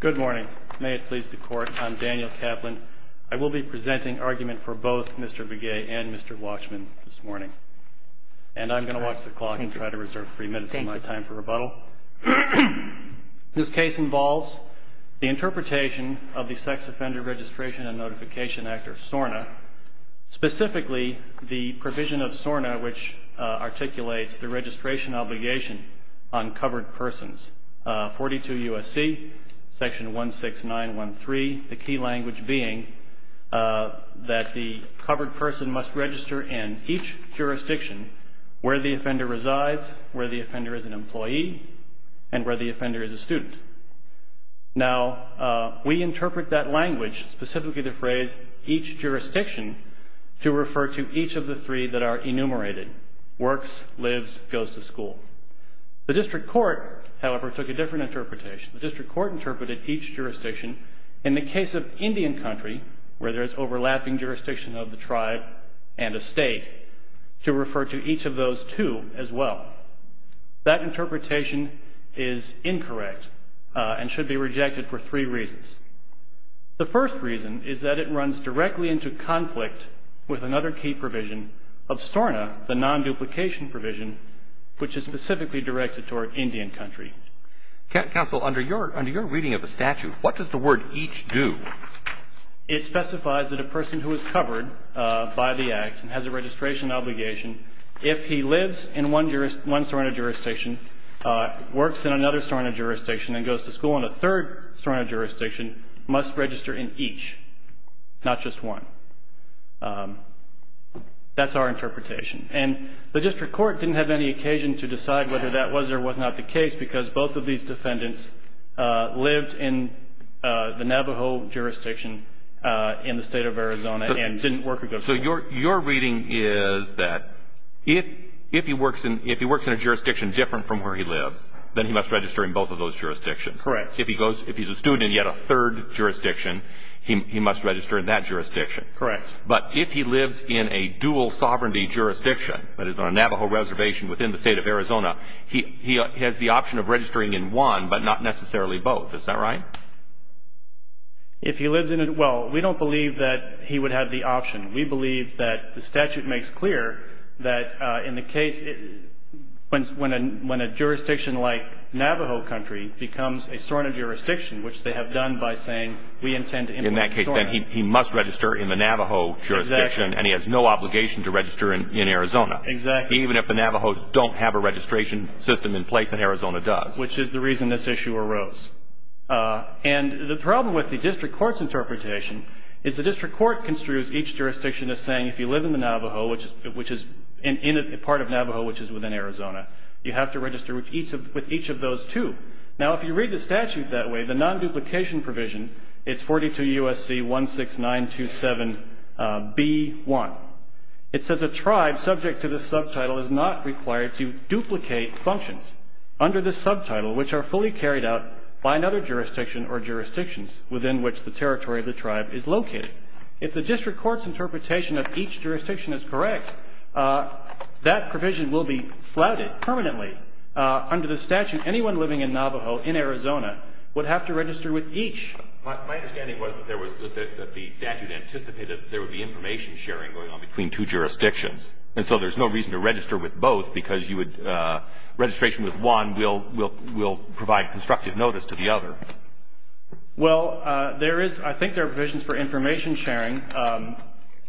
Good morning. May it please the court, I'm Daniel Kaplan. I will be presenting argument for both Mr. Begay and Mr. Walshman this morning. And I'm going to watch the clock and try to reserve three minutes of my time for rebuttal. This case involves the interpretation of the Sex Offender Registration and Notification Act, or SORNA, specifically the provision of SORNA which articulates the registration obligation on covered persons. 42 U.S.C., section 16913, the key language being that the covered person must register in each jurisdiction where the offender resides, where the offender is an employee, and where the offender is a student. Now, we interpret that language, specifically the phrase each jurisdiction, to refer to each of the three that are enumerated, works, lives, goes to school. The district court, however, took a different interpretation. The district court interpreted each jurisdiction in the case of Indian country, where there is overlapping jurisdiction of the tribe and a state, to refer to each of those two as well. That interpretation is incorrect and should be rejected for three reasons. The first reason is that it runs directly into conflict with another key provision of SORNA, the non-duplication provision, which is specifically directed toward Indian country. Counsel, under your reading of the statute, what does the word each do? It specifies that a person who is covered by the Act and has a registration obligation, if he lives in one SORNA jurisdiction, works in another SORNA jurisdiction, and goes to school in a third SORNA jurisdiction, must register in each, not just one. That's our interpretation. And the district court didn't have any occasion to decide whether that was or was not the case, because both of these defendants lived in the Navajo jurisdiction in the state of Arizona and didn't work or go to school. So your reading is that if he works in a jurisdiction different from where he lives, then he must register in both of those jurisdictions. Correct. If he's a student and he had a third jurisdiction, he must register in that jurisdiction. Correct. But if he lives in a dual sovereignty jurisdiction, that is on a Navajo reservation within the state of Arizona, he has the option of registering in one, but not necessarily both. Is that right? If he lives in a – well, we don't believe that he would have the option. We believe that the statute makes clear that in the case when a jurisdiction like Navajo country becomes a SORNA jurisdiction, which they have done by saying, we intend to implement SORNA. In that case, then he must register in the Navajo jurisdiction. Exactly. And he has no obligation to register in Arizona. Exactly. Even if the Navajos don't have a registration system in place and Arizona does. Which is the reason this issue arose. And the problem with the district court's interpretation is the district court construes each jurisdiction as saying, if you live in the Navajo, which is part of Navajo, which is within Arizona, you have to register with each of those two. Now, if you read the statute that way, the non-duplication provision, it's 42 U.S.C. 16927B1. It says a tribe subject to this subtitle is not required to duplicate functions. Under this subtitle, which are fully carried out by another jurisdiction or jurisdictions within which the territory of the tribe is located. If the district court's interpretation of each jurisdiction is correct, that provision will be flouted permanently. Under the statute, anyone living in Navajo in Arizona would have to register with each. My understanding was that the statute anticipated that there would be information sharing going on between two jurisdictions. And so there's no reason to register with both because you would, registration with one will provide constructive notice to the other. Well, there is, I think there are provisions for information sharing.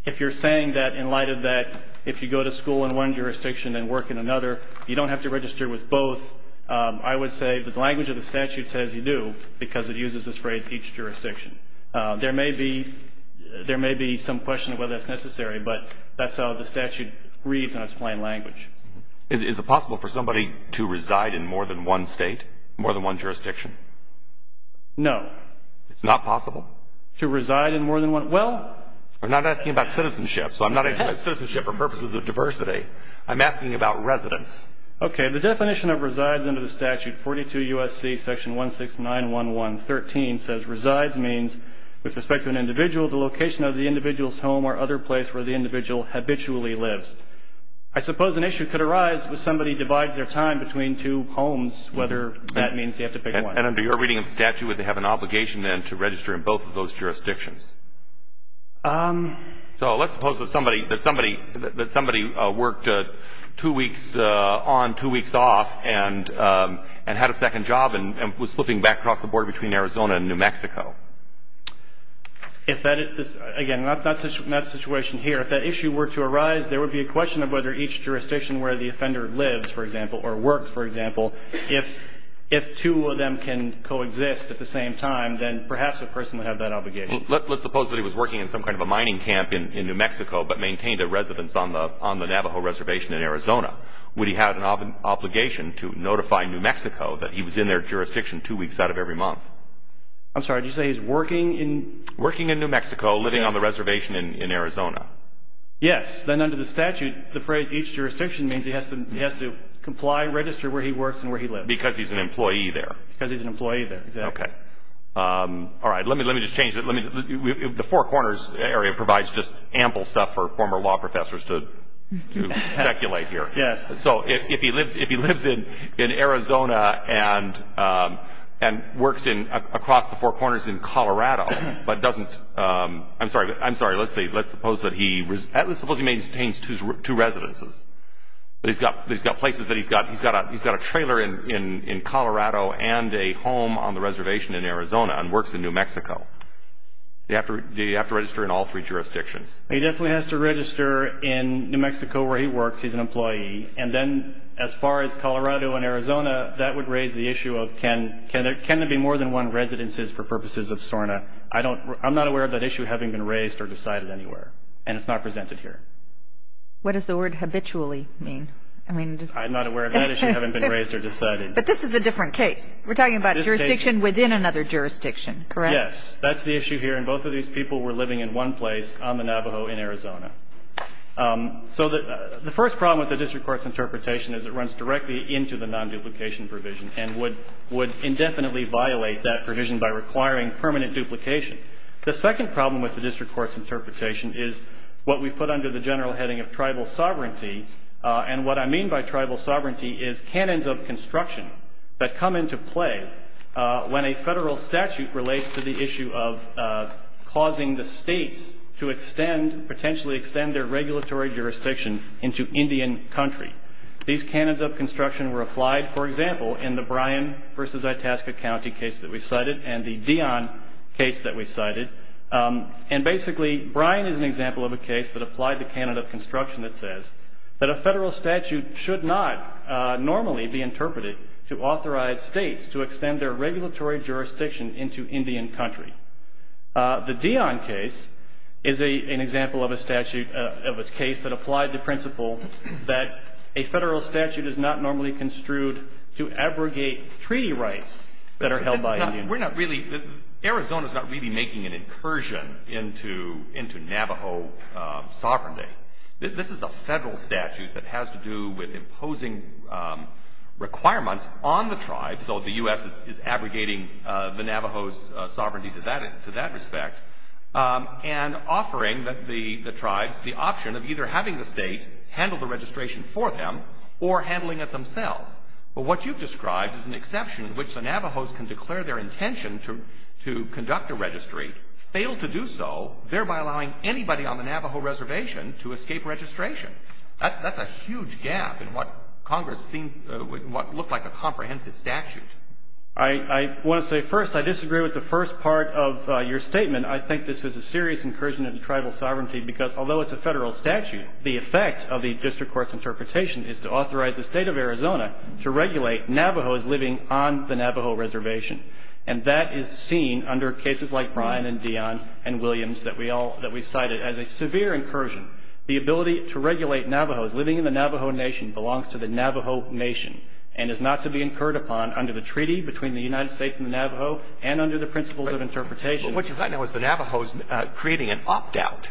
If you're saying that in light of that, if you go to school in one jurisdiction and work in another, you don't have to register with both. I would say that the language of the statute says you do because it uses this phrase, each jurisdiction. There may be some question of whether that's necessary, but that's how the statute reads in its plain language. Is it possible for somebody to reside in more than one state, more than one jurisdiction? No. It's not possible? To reside in more than one, well. I'm not asking about citizenship, so I'm not asking about citizenship for purposes of diversity. I'm asking about residence. Okay. The definition of resides under the statute, 42 U.S.C. section 1691113, says resides means with respect to an individual, the location of the individual's home or other place where the individual habitually lives. I suppose an issue could arise if somebody divides their time between two homes, whether that means you have to pick one. And under your reading of the statute, would they have an obligation then to register in both of those jurisdictions? So let's suppose that somebody worked two weeks on, two weeks off, and had a second job and was flipping back across the border between Arizona and New Mexico. If that is, again, not the situation here. If that issue were to arise, there would be a question of whether each jurisdiction where the offender lives, for example, or works, for example, if two of them can coexist at the same time, then perhaps a person would have that obligation. Let's suppose that he was working in some kind of a mining camp in New Mexico but maintained a residence on the Navajo reservation in Arizona. Would he have an obligation to notify New Mexico that he was in their jurisdiction two weeks out of every month? I'm sorry. Did you say he's working in? Working in New Mexico, living on the reservation in Arizona. Yes. Then under the statute, the phrase each jurisdiction means he has to comply, register where he works and where he lives. Because he's an employee there. Because he's an employee there, exactly. Okay. All right. Let me just change it. The Four Corners area provides just ample stuff for former law professors to speculate here. Yes. So if he lives in Arizona and works across the Four Corners in Colorado but doesn't – I'm sorry. Let's suppose that he maintains two residences. But he's got places that he's got – he's got a trailer in Colorado and a home on the reservation in Arizona and works in New Mexico. Do you have to register in all three jurisdictions? He definitely has to register in New Mexico where he works. He's an employee. And then as far as Colorado and Arizona, that would raise the issue of can there be more than one residences for purposes of SORNA. I'm not aware of that issue having been raised or decided anywhere. And it's not presented here. What does the word habitually mean? I'm not aware of that issue having been raised or decided. But this is a different case. We're talking about jurisdiction within another jurisdiction, correct? Yes. That's the issue here. And both of these people were living in one place on the Navajo in Arizona. So the first problem with the district court's interpretation is it runs directly into the non-duplication provision and would indefinitely violate that provision by requiring permanent duplication. The second problem with the district court's interpretation is what we put under the general heading of tribal sovereignty. And what I mean by tribal sovereignty is canons of construction that come into play when a federal statute relates to the issue of causing the states to potentially extend their regulatory jurisdiction into Indian country. These canons of construction were applied, for example, in the Bryan versus Itasca County case that we cited and the Dion case that we cited. And basically, Bryan is an example of a case that applied the canon of construction that says that a federal statute should not normally be interpreted to authorize states to extend their regulatory jurisdiction into Indian country. The Dion case is an example of a statute of a case that applied the principle that a federal statute is not normally construed to abrogate treaty rights that are held by Indians. And we're not really, Arizona's not really making an incursion into Navajo sovereignty. This is a federal statute that has to do with imposing requirements on the tribe, so the U.S. is abrogating the Navajo's sovereignty to that respect, and offering the tribes the option of either having the state handle the registration for them or handling it themselves. Well, what you've described is an exception in which the Navajos can declare their intention to conduct a registry, fail to do so, thereby allowing anybody on the Navajo reservation to escape registration. That's a huge gap in what Congress looked like a comprehensive statute. I want to say first, I disagree with the first part of your statement. I think this is a serious incursion into tribal sovereignty because although it's a federal statute, the effect of the district court's interpretation is to authorize the State of Arizona to regulate Navajos living on the Navajo reservation. And that is seen under cases like Bryan and Dion and Williams that we all – that we cited as a severe incursion. The ability to regulate Navajos living in the Navajo Nation belongs to the Navajo Nation and is not to be incurred upon under the treaty between the United States and the Navajo and under the principles of interpretation. But what you've got now is the Navajos creating an opt-out,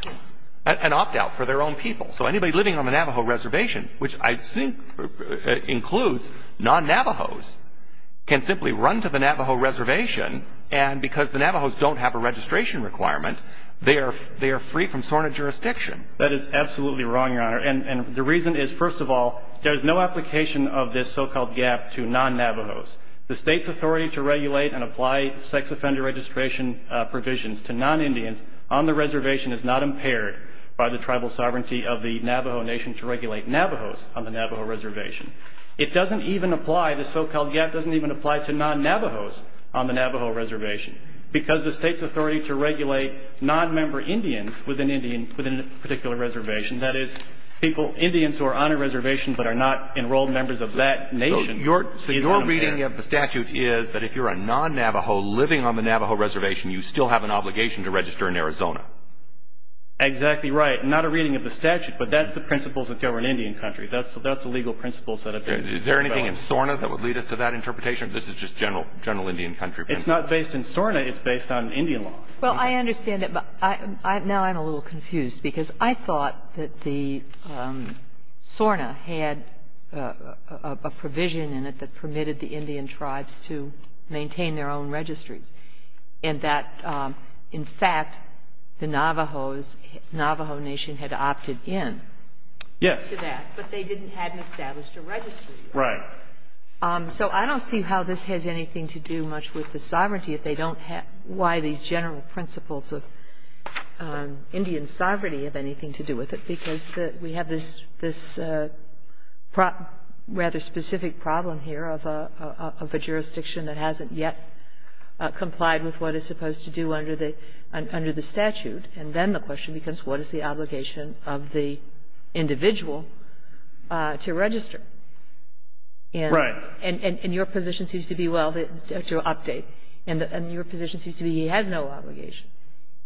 an opt-out for their own people. So anybody living on the Navajo reservation, which I think includes non-Navajos, can simply run to the Navajo reservation and because the Navajos don't have a registration requirement, they are free from SORNA jurisdiction. That is absolutely wrong, Your Honor. And the reason is, first of all, there is no application of this so-called gap to non-Navajos. The State's authority to regulate and apply sex offender registration provisions to non-Indians on the reservation is not impaired by the tribal sovereignty of the Navajo Nation to regulate Navajos on the Navajo reservation. It doesn't even apply, this so-called gap doesn't even apply to non-Navajos on the Navajo reservation because the State's authority to regulate non-member Indians within a particular reservation, that is, Indians who are on a reservation but are not enrolled members of that nation, is not impaired. So your reading of the statute is that if you're a non-Navajo living on the Navajo reservation, you still have an obligation to register in Arizona. Exactly right. Not a reading of the statute, but that's the principles that govern Indian country. That's the legal principles that have been developed. Is there anything in SORNA that would lead us to that interpretation? This is just general Indian country principles. It's not based in SORNA. It's based on Indian law. Well, I understand that, but now I'm a little confused because I thought that the SORNA had a provision in it that permitted the Indian tribes to maintain their own registries and that, in fact, the Navajos, Navajo Nation had opted in to that. Yes. But they didn't have an established registry. Right. So I don't see how this has anything to do much with the sovereignty. I don't see if they don't have why these general principles of Indian sovereignty have anything to do with it because we have this rather specific problem here of a jurisdiction that hasn't yet complied with what is supposed to do under the statute. And then the question becomes what is the obligation of the individual to register? Right. And your position seems to be, well, to update, and your position seems to be he has no obligation.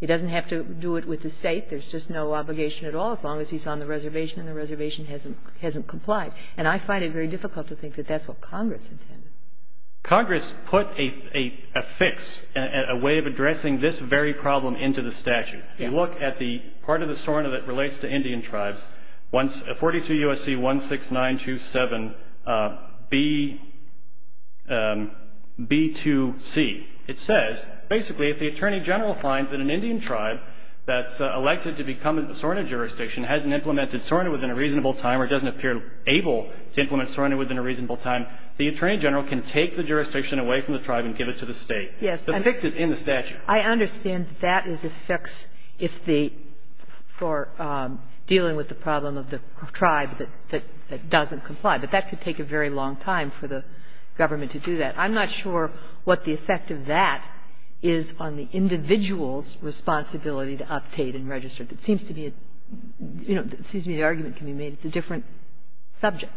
He doesn't have to do it with the State. There's just no obligation at all as long as he's on the reservation and the reservation hasn't complied. And I find it very difficult to think that that's what Congress intended. Congress put a fix, a way of addressing this very problem into the statute. If you look at the part of the SORNA that relates to Indian tribes, 42 U.S.C. 16927 B2C, it says basically if the Attorney General finds that an Indian tribe that's elected to become a SORNA jurisdiction hasn't implemented SORNA within a reasonable time or doesn't appear able to implement SORNA within a reasonable time, the Attorney General can take the jurisdiction away from the tribe and give it to the State. The fix is in the statute. But I understand that is a fix if the – for dealing with the problem of the tribe that doesn't comply. But that could take a very long time for the government to do that. I'm not sure what the effect of that is on the individual's responsibility to update and register. It seems to be a – you know, it seems to me the argument can be made it's a different subject.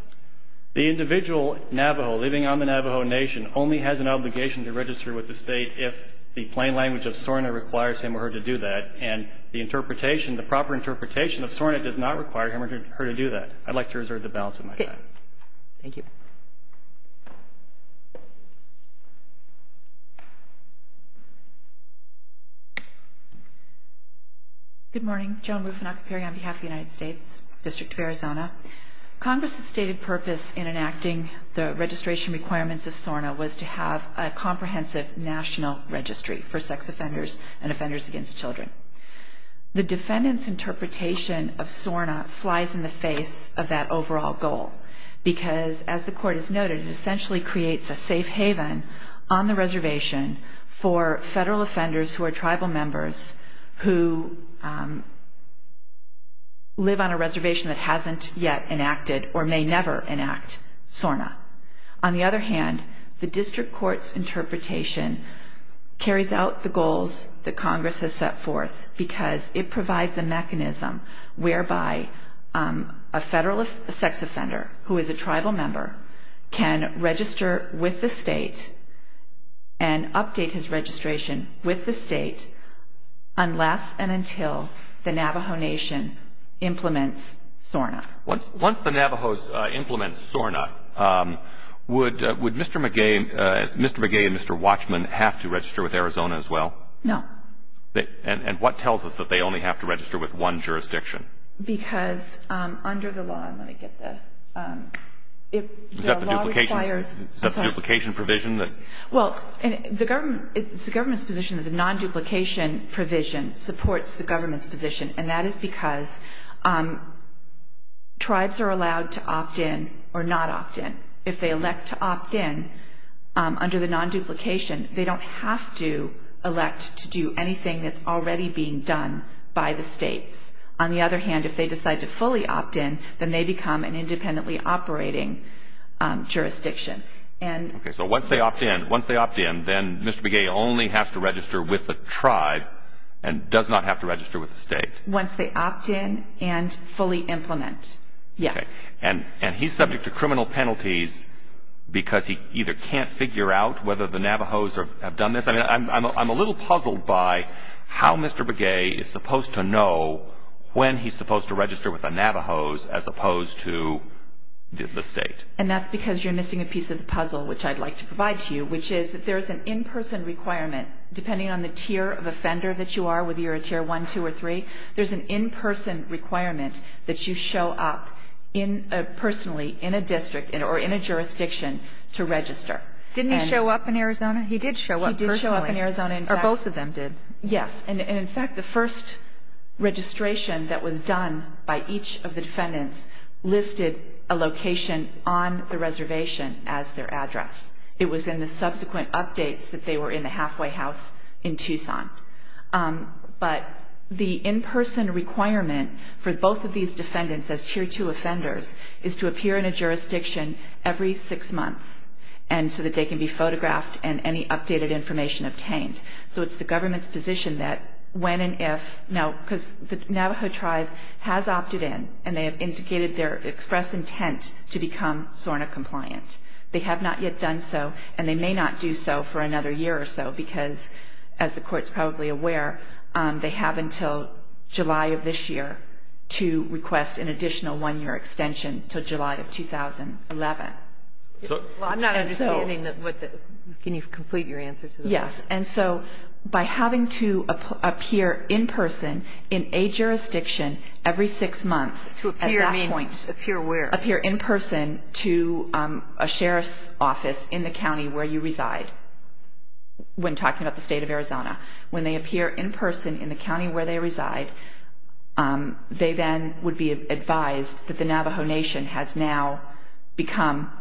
The individual Navajo living on the Navajo Nation only has an obligation to register with the State if the plain language of SORNA requires him or her to do that. And the interpretation, the proper interpretation of SORNA does not require him or her to do that. I'd like to reserve the balance of my time. Okay. Thank you. Good morning. Joan Rufinacchia Perri on behalf of the United States District of Arizona. Congress's stated purpose in enacting the registration requirements of SORNA was to have a comprehensive national registry for sex offenders and offenders against children. The defendant's interpretation of SORNA flies in the face of that overall goal because, as the Court has noted, it essentially creates a safe haven on the reservation for federal offenders who are tribal members who live on a reservation that hasn't yet enacted or may never enact SORNA. On the other hand, the District Court's interpretation carries out the goals that Congress has set forth because it provides a mechanism whereby a federal sex offender who is a tribal member can register with the State and update his registration with the State unless and until the Navajo Nation implements SORNA. Once the Navajos implement SORNA, would Mr. Magee and Mr. Watchman have to register with Arizona as well? No. And what tells us that they only have to register with one jurisdiction? Because under the law, let me get the... Is that the duplication provision? Well, it's the government's position that the non-duplication provision supports the tribes are allowed to opt-in or not opt-in. If they elect to opt-in under the non-duplication, they don't have to elect to do anything that's already being done by the States. On the other hand, if they decide to fully opt-in, then they become an independently operating jurisdiction. Okay. So once they opt-in, then Mr. Magee only has to register with the tribe and does not have to register with the State? Once they opt-in and fully implement, yes. Okay. And he's subject to criminal penalties because he either can't figure out whether the Navajos have done this. I mean, I'm a little puzzled by how Mr. Magee is supposed to know when he's supposed to register with the Navajos as opposed to the State. And that's because you're missing a piece of the puzzle, which I'd like to provide to you, which is that there's an in-person requirement, depending on the tier of offender that you are, whether you're a tier 1, 2, or 3, there's an in-person requirement that you show up personally in a district or in a jurisdiction to register. Didn't he show up in Arizona? He did show up personally. He did show up in Arizona. Or both of them did. Yes. And in fact, the first registration that was done by each of the defendants listed a location on the reservation as their address. It was in the subsequent updates that they were in the halfway house in Tucson. But the in-person requirement for both of these defendants as tier 2 offenders is to appear in a jurisdiction every six months so that they can be photographed and any updated information obtained. So it's the government's position that when and if, because the Navajo tribe has opted in, and they have indicated their express intent to become SORNA compliant. They have not yet done so, and they may not do so for another year or so, because as the Court's probably aware, they have until July of this year to request an additional one-year extension until July of 2011. Well, I'm not understanding what the ñ can you complete your answer to that? Yes. And so by having to appear in person in a jurisdiction every six months at that point. To appear means appear where? Appear in person to a sheriff's office in the county where you reside, when talking about the state of Arizona. When they appear in person in the county where they reside, they then would be advised that the Navajo Nation has now become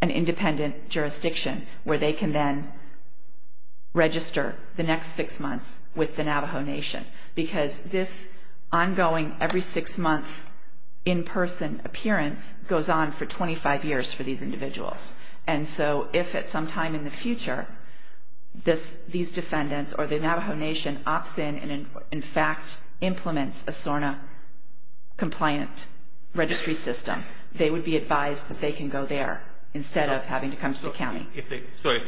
an independent jurisdiction where they can then register the next six months with the Navajo Nation. Because this ongoing every six-month in-person appearance goes on for 25 years for these individuals. And so if at some time in the future these defendants or the Navajo Nation opts in and in fact implements a SORNA compliant registry system, they would be advised that they can go there instead of having to come to the county. So if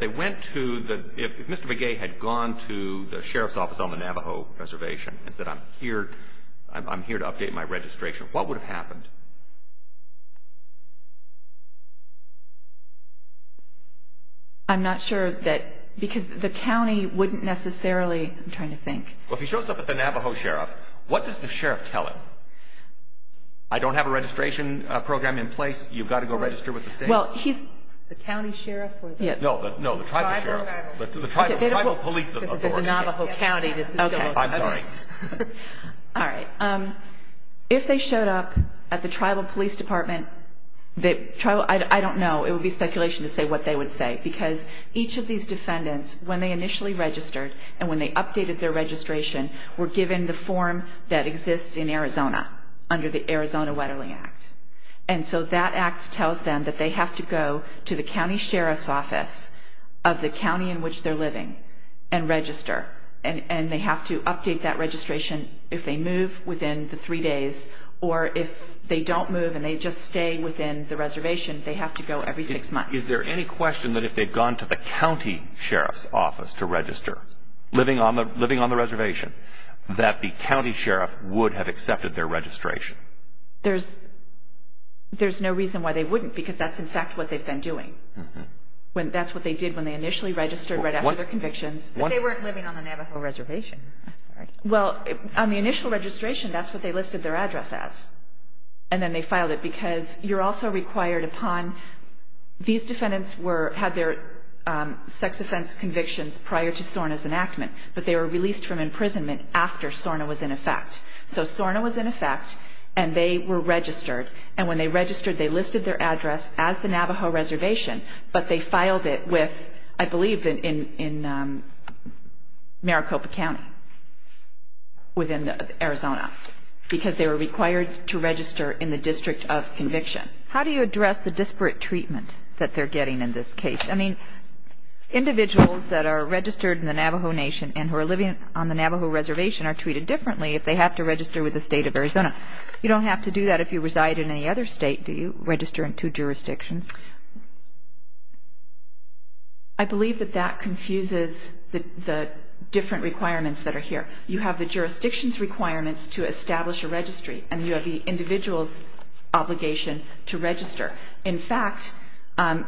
they went to the ñ if Mr. Begay had gone to the sheriff's office on the Navajo reservation and said, I'm here to update my registration, what would have happened? I'm not sure that ñ because the county wouldn't necessarily ñ I'm trying to think. Well, if he shows up at the Navajo sheriff, what does the sheriff tell him? I don't have a registration program in place. You've got to go register with the state. Well, he's ñ The county sheriff or the ñ No, the tribal sheriff. The tribal police authority. This is a Navajo county. Okay. I'm sorry. All right. If they showed up at the tribal police department, the ñ I don't know. It would be speculation to say what they would say. Because each of these defendants, when they initially registered and when they updated their registration, were given the form that exists in Arizona under the Arizona Weatherly Act. And so that act tells them that they have to go to the county sheriff's office of the county in which they're living and register. And they have to update that registration if they move within the three days or if they don't move and they just stay within the reservation, they have to go every six months. Is there any question that if they've gone to the county sheriff's office to register, living on the reservation, that the county sheriff would have accepted their registration? There's no reason why they wouldn't because that's, in fact, what they've been doing. That's what they did when they initially registered right after their convictions. But they weren't living on the Navajo reservation. Well, on the initial registration, that's what they listed their address as. And then they filed it because you're also required upon ñ these defendants had their sex offense convictions prior to SORNA's enactment, but they were released from imprisonment after SORNA was in effect. So SORNA was in effect and they were registered. And when they registered, they listed their address as the Navajo reservation, but they filed it with, I believe, in Maricopa County within Arizona because they were required to register in the district of conviction. How do you address the disparate treatment that they're getting in this case? I mean, individuals that are registered in the Navajo Nation and who are living on the Navajo reservation are treated differently if they have to register with the state of Arizona. You don't have to do that if you reside in any other state. Do you register in two jurisdictions? I believe that that confuses the different requirements that are here. You have the jurisdiction's requirements to establish a registry and you have the individual's obligation to register. In fact,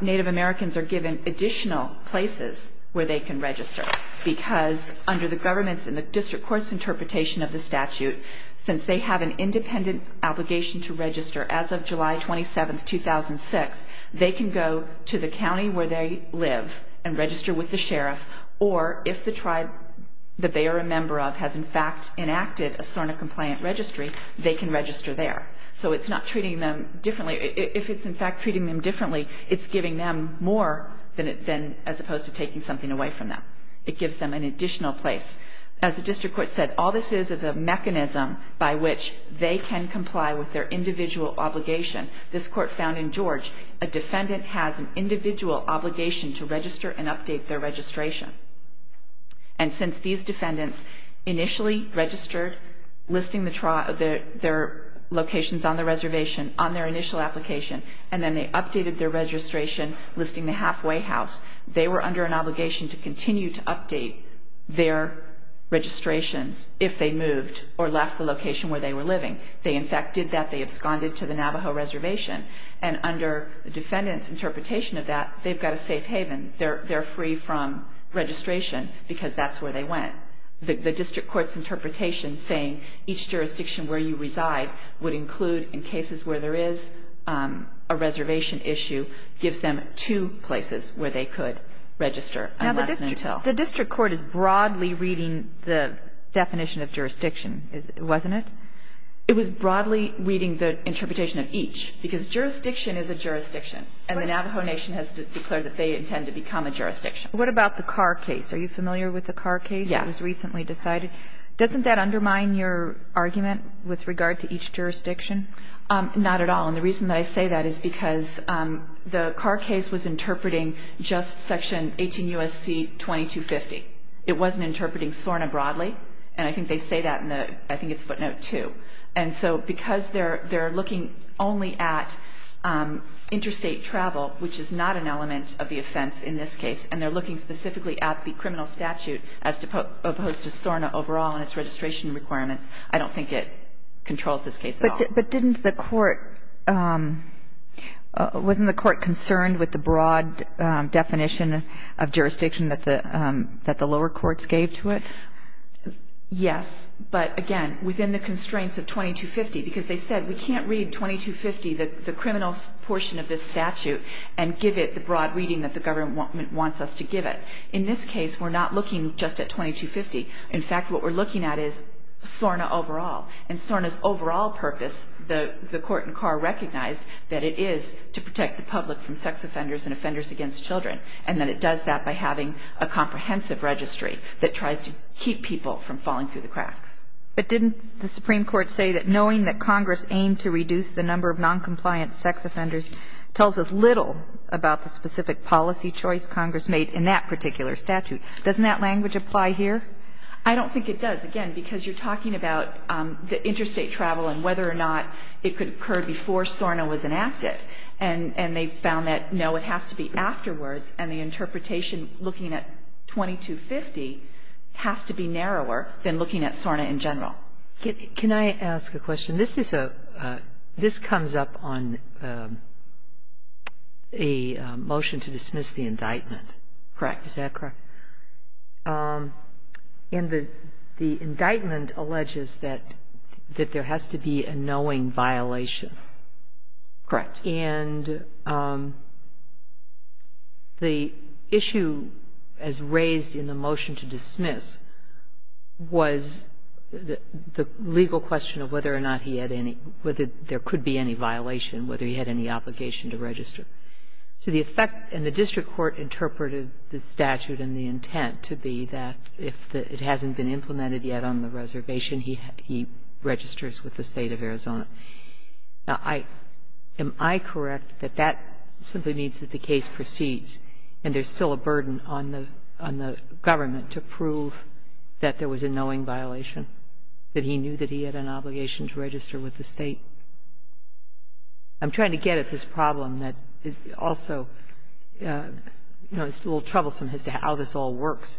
Native Americans are given additional places where they can register because under the government's and the district court's interpretation of the statute, since they have an independent obligation to register as of July 27, 2006, they can go to the county where they live and register with the sheriff or if the tribe that they are a member of has in fact enacted a SORNA-compliant registry, they can register there. So it's not treating them differently. If it's in fact treating them differently, it's giving them more as opposed to taking something away from them. It gives them an additional place. As the district court said, all this is is a mechanism by which they can comply with their individual obligation. This court found in George a defendant has an individual obligation to register and update their registration. And since these defendants initially registered, listing their locations on the reservation on their initial application, and then they updated their registration listing the halfway house, they were under an obligation to continue to update their registrations if they moved or left the location where they were living. They in fact did that. They absconded to the Navajo reservation. And under the defendant's interpretation of that, they've got a safe haven. They're free from registration because that's where they went. The district court's interpretation saying each jurisdiction where you reside would include in cases where there is a reservation issue, gives them two places where they could register unless and until. Now, the district court is broadly reading the definition of jurisdiction, wasn't it? It was broadly reading the interpretation of each. Because jurisdiction is a jurisdiction. And the Navajo Nation has declared that they intend to become a jurisdiction. What about the car case? Are you familiar with the car case? Yes. It was recently decided. Doesn't that undermine your argument with regard to each jurisdiction? Not at all. And the reason that I say that is because the car case was interpreting just Section 18 U.S.C. 2250. It wasn't interpreting SORNA broadly. And I think they say that in the ‑‑ I think it's footnote two. And so because they're looking only at interstate travel, which is not an element of the offense in this case, and they're looking specifically at the criminal statute as opposed to SORNA overall and its registration requirements, I don't think it controls this case at all. But didn't the court ‑‑ wasn't the court concerned with the broad definition of jurisdiction that the lower courts gave to it? Yes. But, again, within the constraints of 2250, because they said we can't read 2250, the criminal portion of this statute, and give it the broad reading that the government wants us to give it. In this case, we're not looking just at 2250. In fact, what we're looking at is SORNA overall. And SORNA's overall purpose, the court in Carr recognized, that it is to protect the public from sex offenders and offenders against children, and that it does that by having a comprehensive registry that tries to keep people from falling through the cracks. But didn't the Supreme Court say that knowing that Congress aimed to reduce the number of noncompliant sex offenders tells us little about the specific policy choice Congress made in that particular statute? Doesn't that language apply here? I don't think it does, again, because you're talking about the interstate travel and whether or not it could occur before SORNA was enacted. And they found that, no, it has to be afterwards, and the interpretation looking at 2250 has to be narrower than looking at SORNA in general. Now, can I ask a question? This is a – this comes up on a motion to dismiss the indictment. Correct. Is that correct? And the indictment alleges that there has to be a knowing violation. Correct. And the issue as raised in the motion to dismiss was the legal question of whether or not he had any – whether there could be any violation, whether he had any obligation to register. So the effect in the district court interpreted the statute and the intent to be that if it hasn't been implemented yet on the reservation, he registers with the State of Arizona. Now, am I correct that that simply means that the case proceeds and there's still a burden on the government to prove that there was a knowing violation, that he knew that he had an obligation to register with the State? I'm trying to get at this problem that also, you know, is a little troublesome as to how this all works.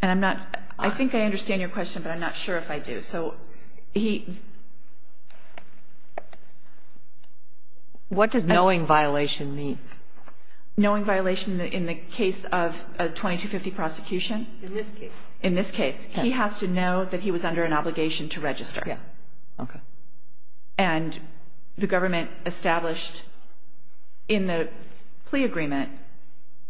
And I'm not – I think I understand your question, but I'm not sure if I do. So he – What does knowing violation mean? Knowing violation in the case of a 2250 prosecution. In this case. In this case. He has to know that he was under an obligation to register. Yeah. Okay. And the government established in the plea agreement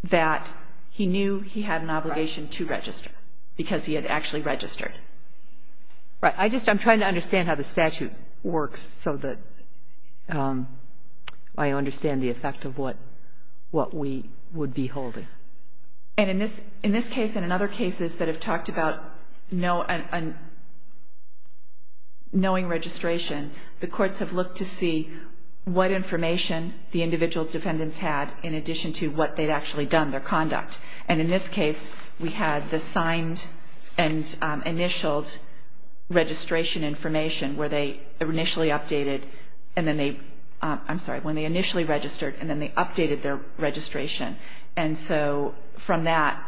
that he knew he had an obligation to register because he had actually registered. Right. I just – I'm trying to understand how the statute works so that I understand the effect of what we would be holding. And in this case and in other cases that have talked about knowing registration, the courts have looked to see what information the individual defendants had in addition to what they'd actually done, their conduct. And in this case, we had the signed and initialed registration information where they initially updated and then they – I'm sorry. When they initially registered and then they updated their registration. And so from that,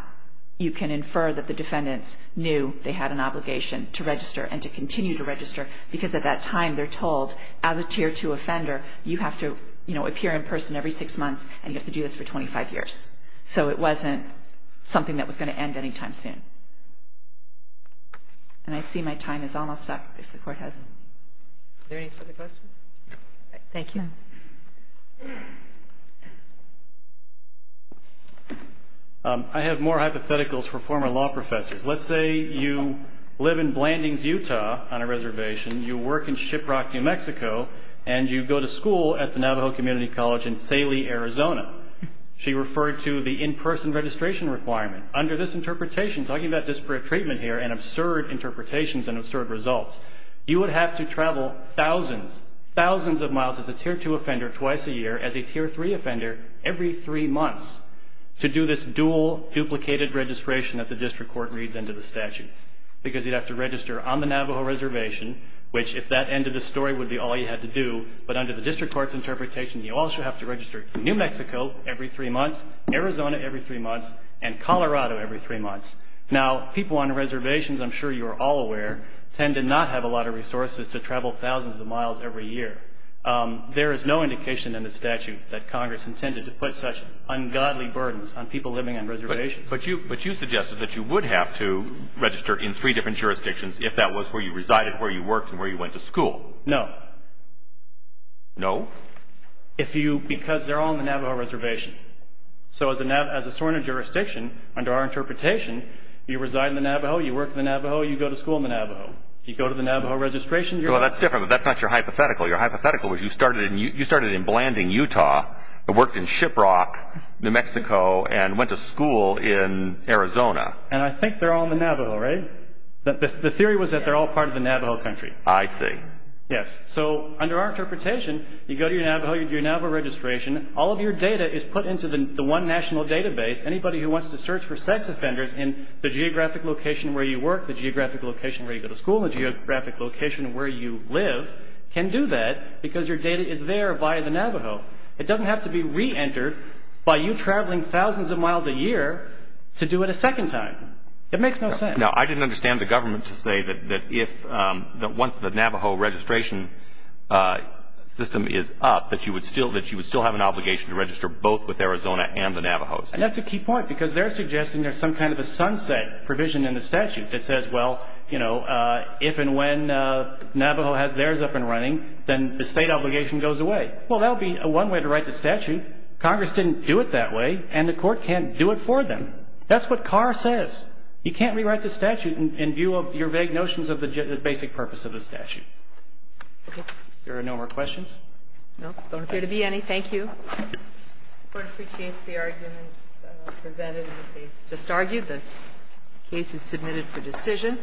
you can infer that the defendants knew they had an obligation to register and to continue to register because at that time they're told, as a Tier 2 offender, you have to, you know, appear in person every six months and you have to do this for 25 years. So it wasn't something that was going to end anytime soon. And I see my time is almost up, if the Court has. Is there any further questions? Thank you. I have more hypotheticals for former law professors. Let's say you live in Blandings, Utah, on a reservation. You work in Shiprock, New Mexico, and you go to school at the Navajo Community College in Saley, Arizona. She referred to the in-person registration requirement. Under this interpretation, talking about disparate treatment here and absurd interpretations and absurd results, you would have to travel thousands, thousands of miles as a Tier 2 offender twice a year, as a Tier 3 offender every three months, to do this dual duplicated registration that the district court reads into the statute. Because you'd have to register on the Navajo reservation, which if that ended the story would be all you had to do. But under the district court's interpretation, you also have to register New Mexico every three months, Arizona every three months, and Colorado every three months. Now, people on reservations, I'm sure you are all aware, tend to not have a lot of resources to travel thousands of miles every year. There is no indication in the statute that Congress intended to put such ungodly burdens on people living on reservations. But you suggested that you would have to register in three different jurisdictions if that was where you resided, where you worked, and where you went to school. No. No? If you, because they're all on the Navajo reservation. So as a sworn in jurisdiction, under our interpretation, you reside in the Navajo, you work in the Navajo, you go to school in the Navajo. You go to the Navajo registration, you're... Well, that's different, but that's not your hypothetical. Your hypothetical was you started in Blanding, Utah, and worked in Shiprock, New Mexico, and went to school in Arizona. And I think they're all in the Navajo, right? The theory was that they're all part of the Navajo country. I see. Yes. So under our interpretation, you go to your Navajo, you do your Navajo registration, all of your data is put into the one national database. Anybody who wants to search for sex offenders in the geographic location where you work, the geographic location where you go to school, and the geographic location where you live can do that because your data is there via the Navajo. It doesn't have to be reentered by you traveling thousands of miles a year to do it a second time. It makes no sense. Now, I didn't understand the government to say that once the Navajo registration system is up that you would still have an obligation to register both with Arizona and the Navajos. And that's a key point because they're suggesting there's some kind of a sunset provision in the statute that says, well, you know, if and when Navajo has theirs up and running, then the state obligation goes away. Well, that would be one way to write the statute. Congress didn't do it that way, and the court can't do it for them. That's what Carr says. You can't rewrite the statute in view of your vague notions of the basic purpose of the statute. Okay. If there are no more questions. No, don't appear to be any. Thank you. The Court appreciates the arguments presented in the case. Just argued the case is submitted for decision.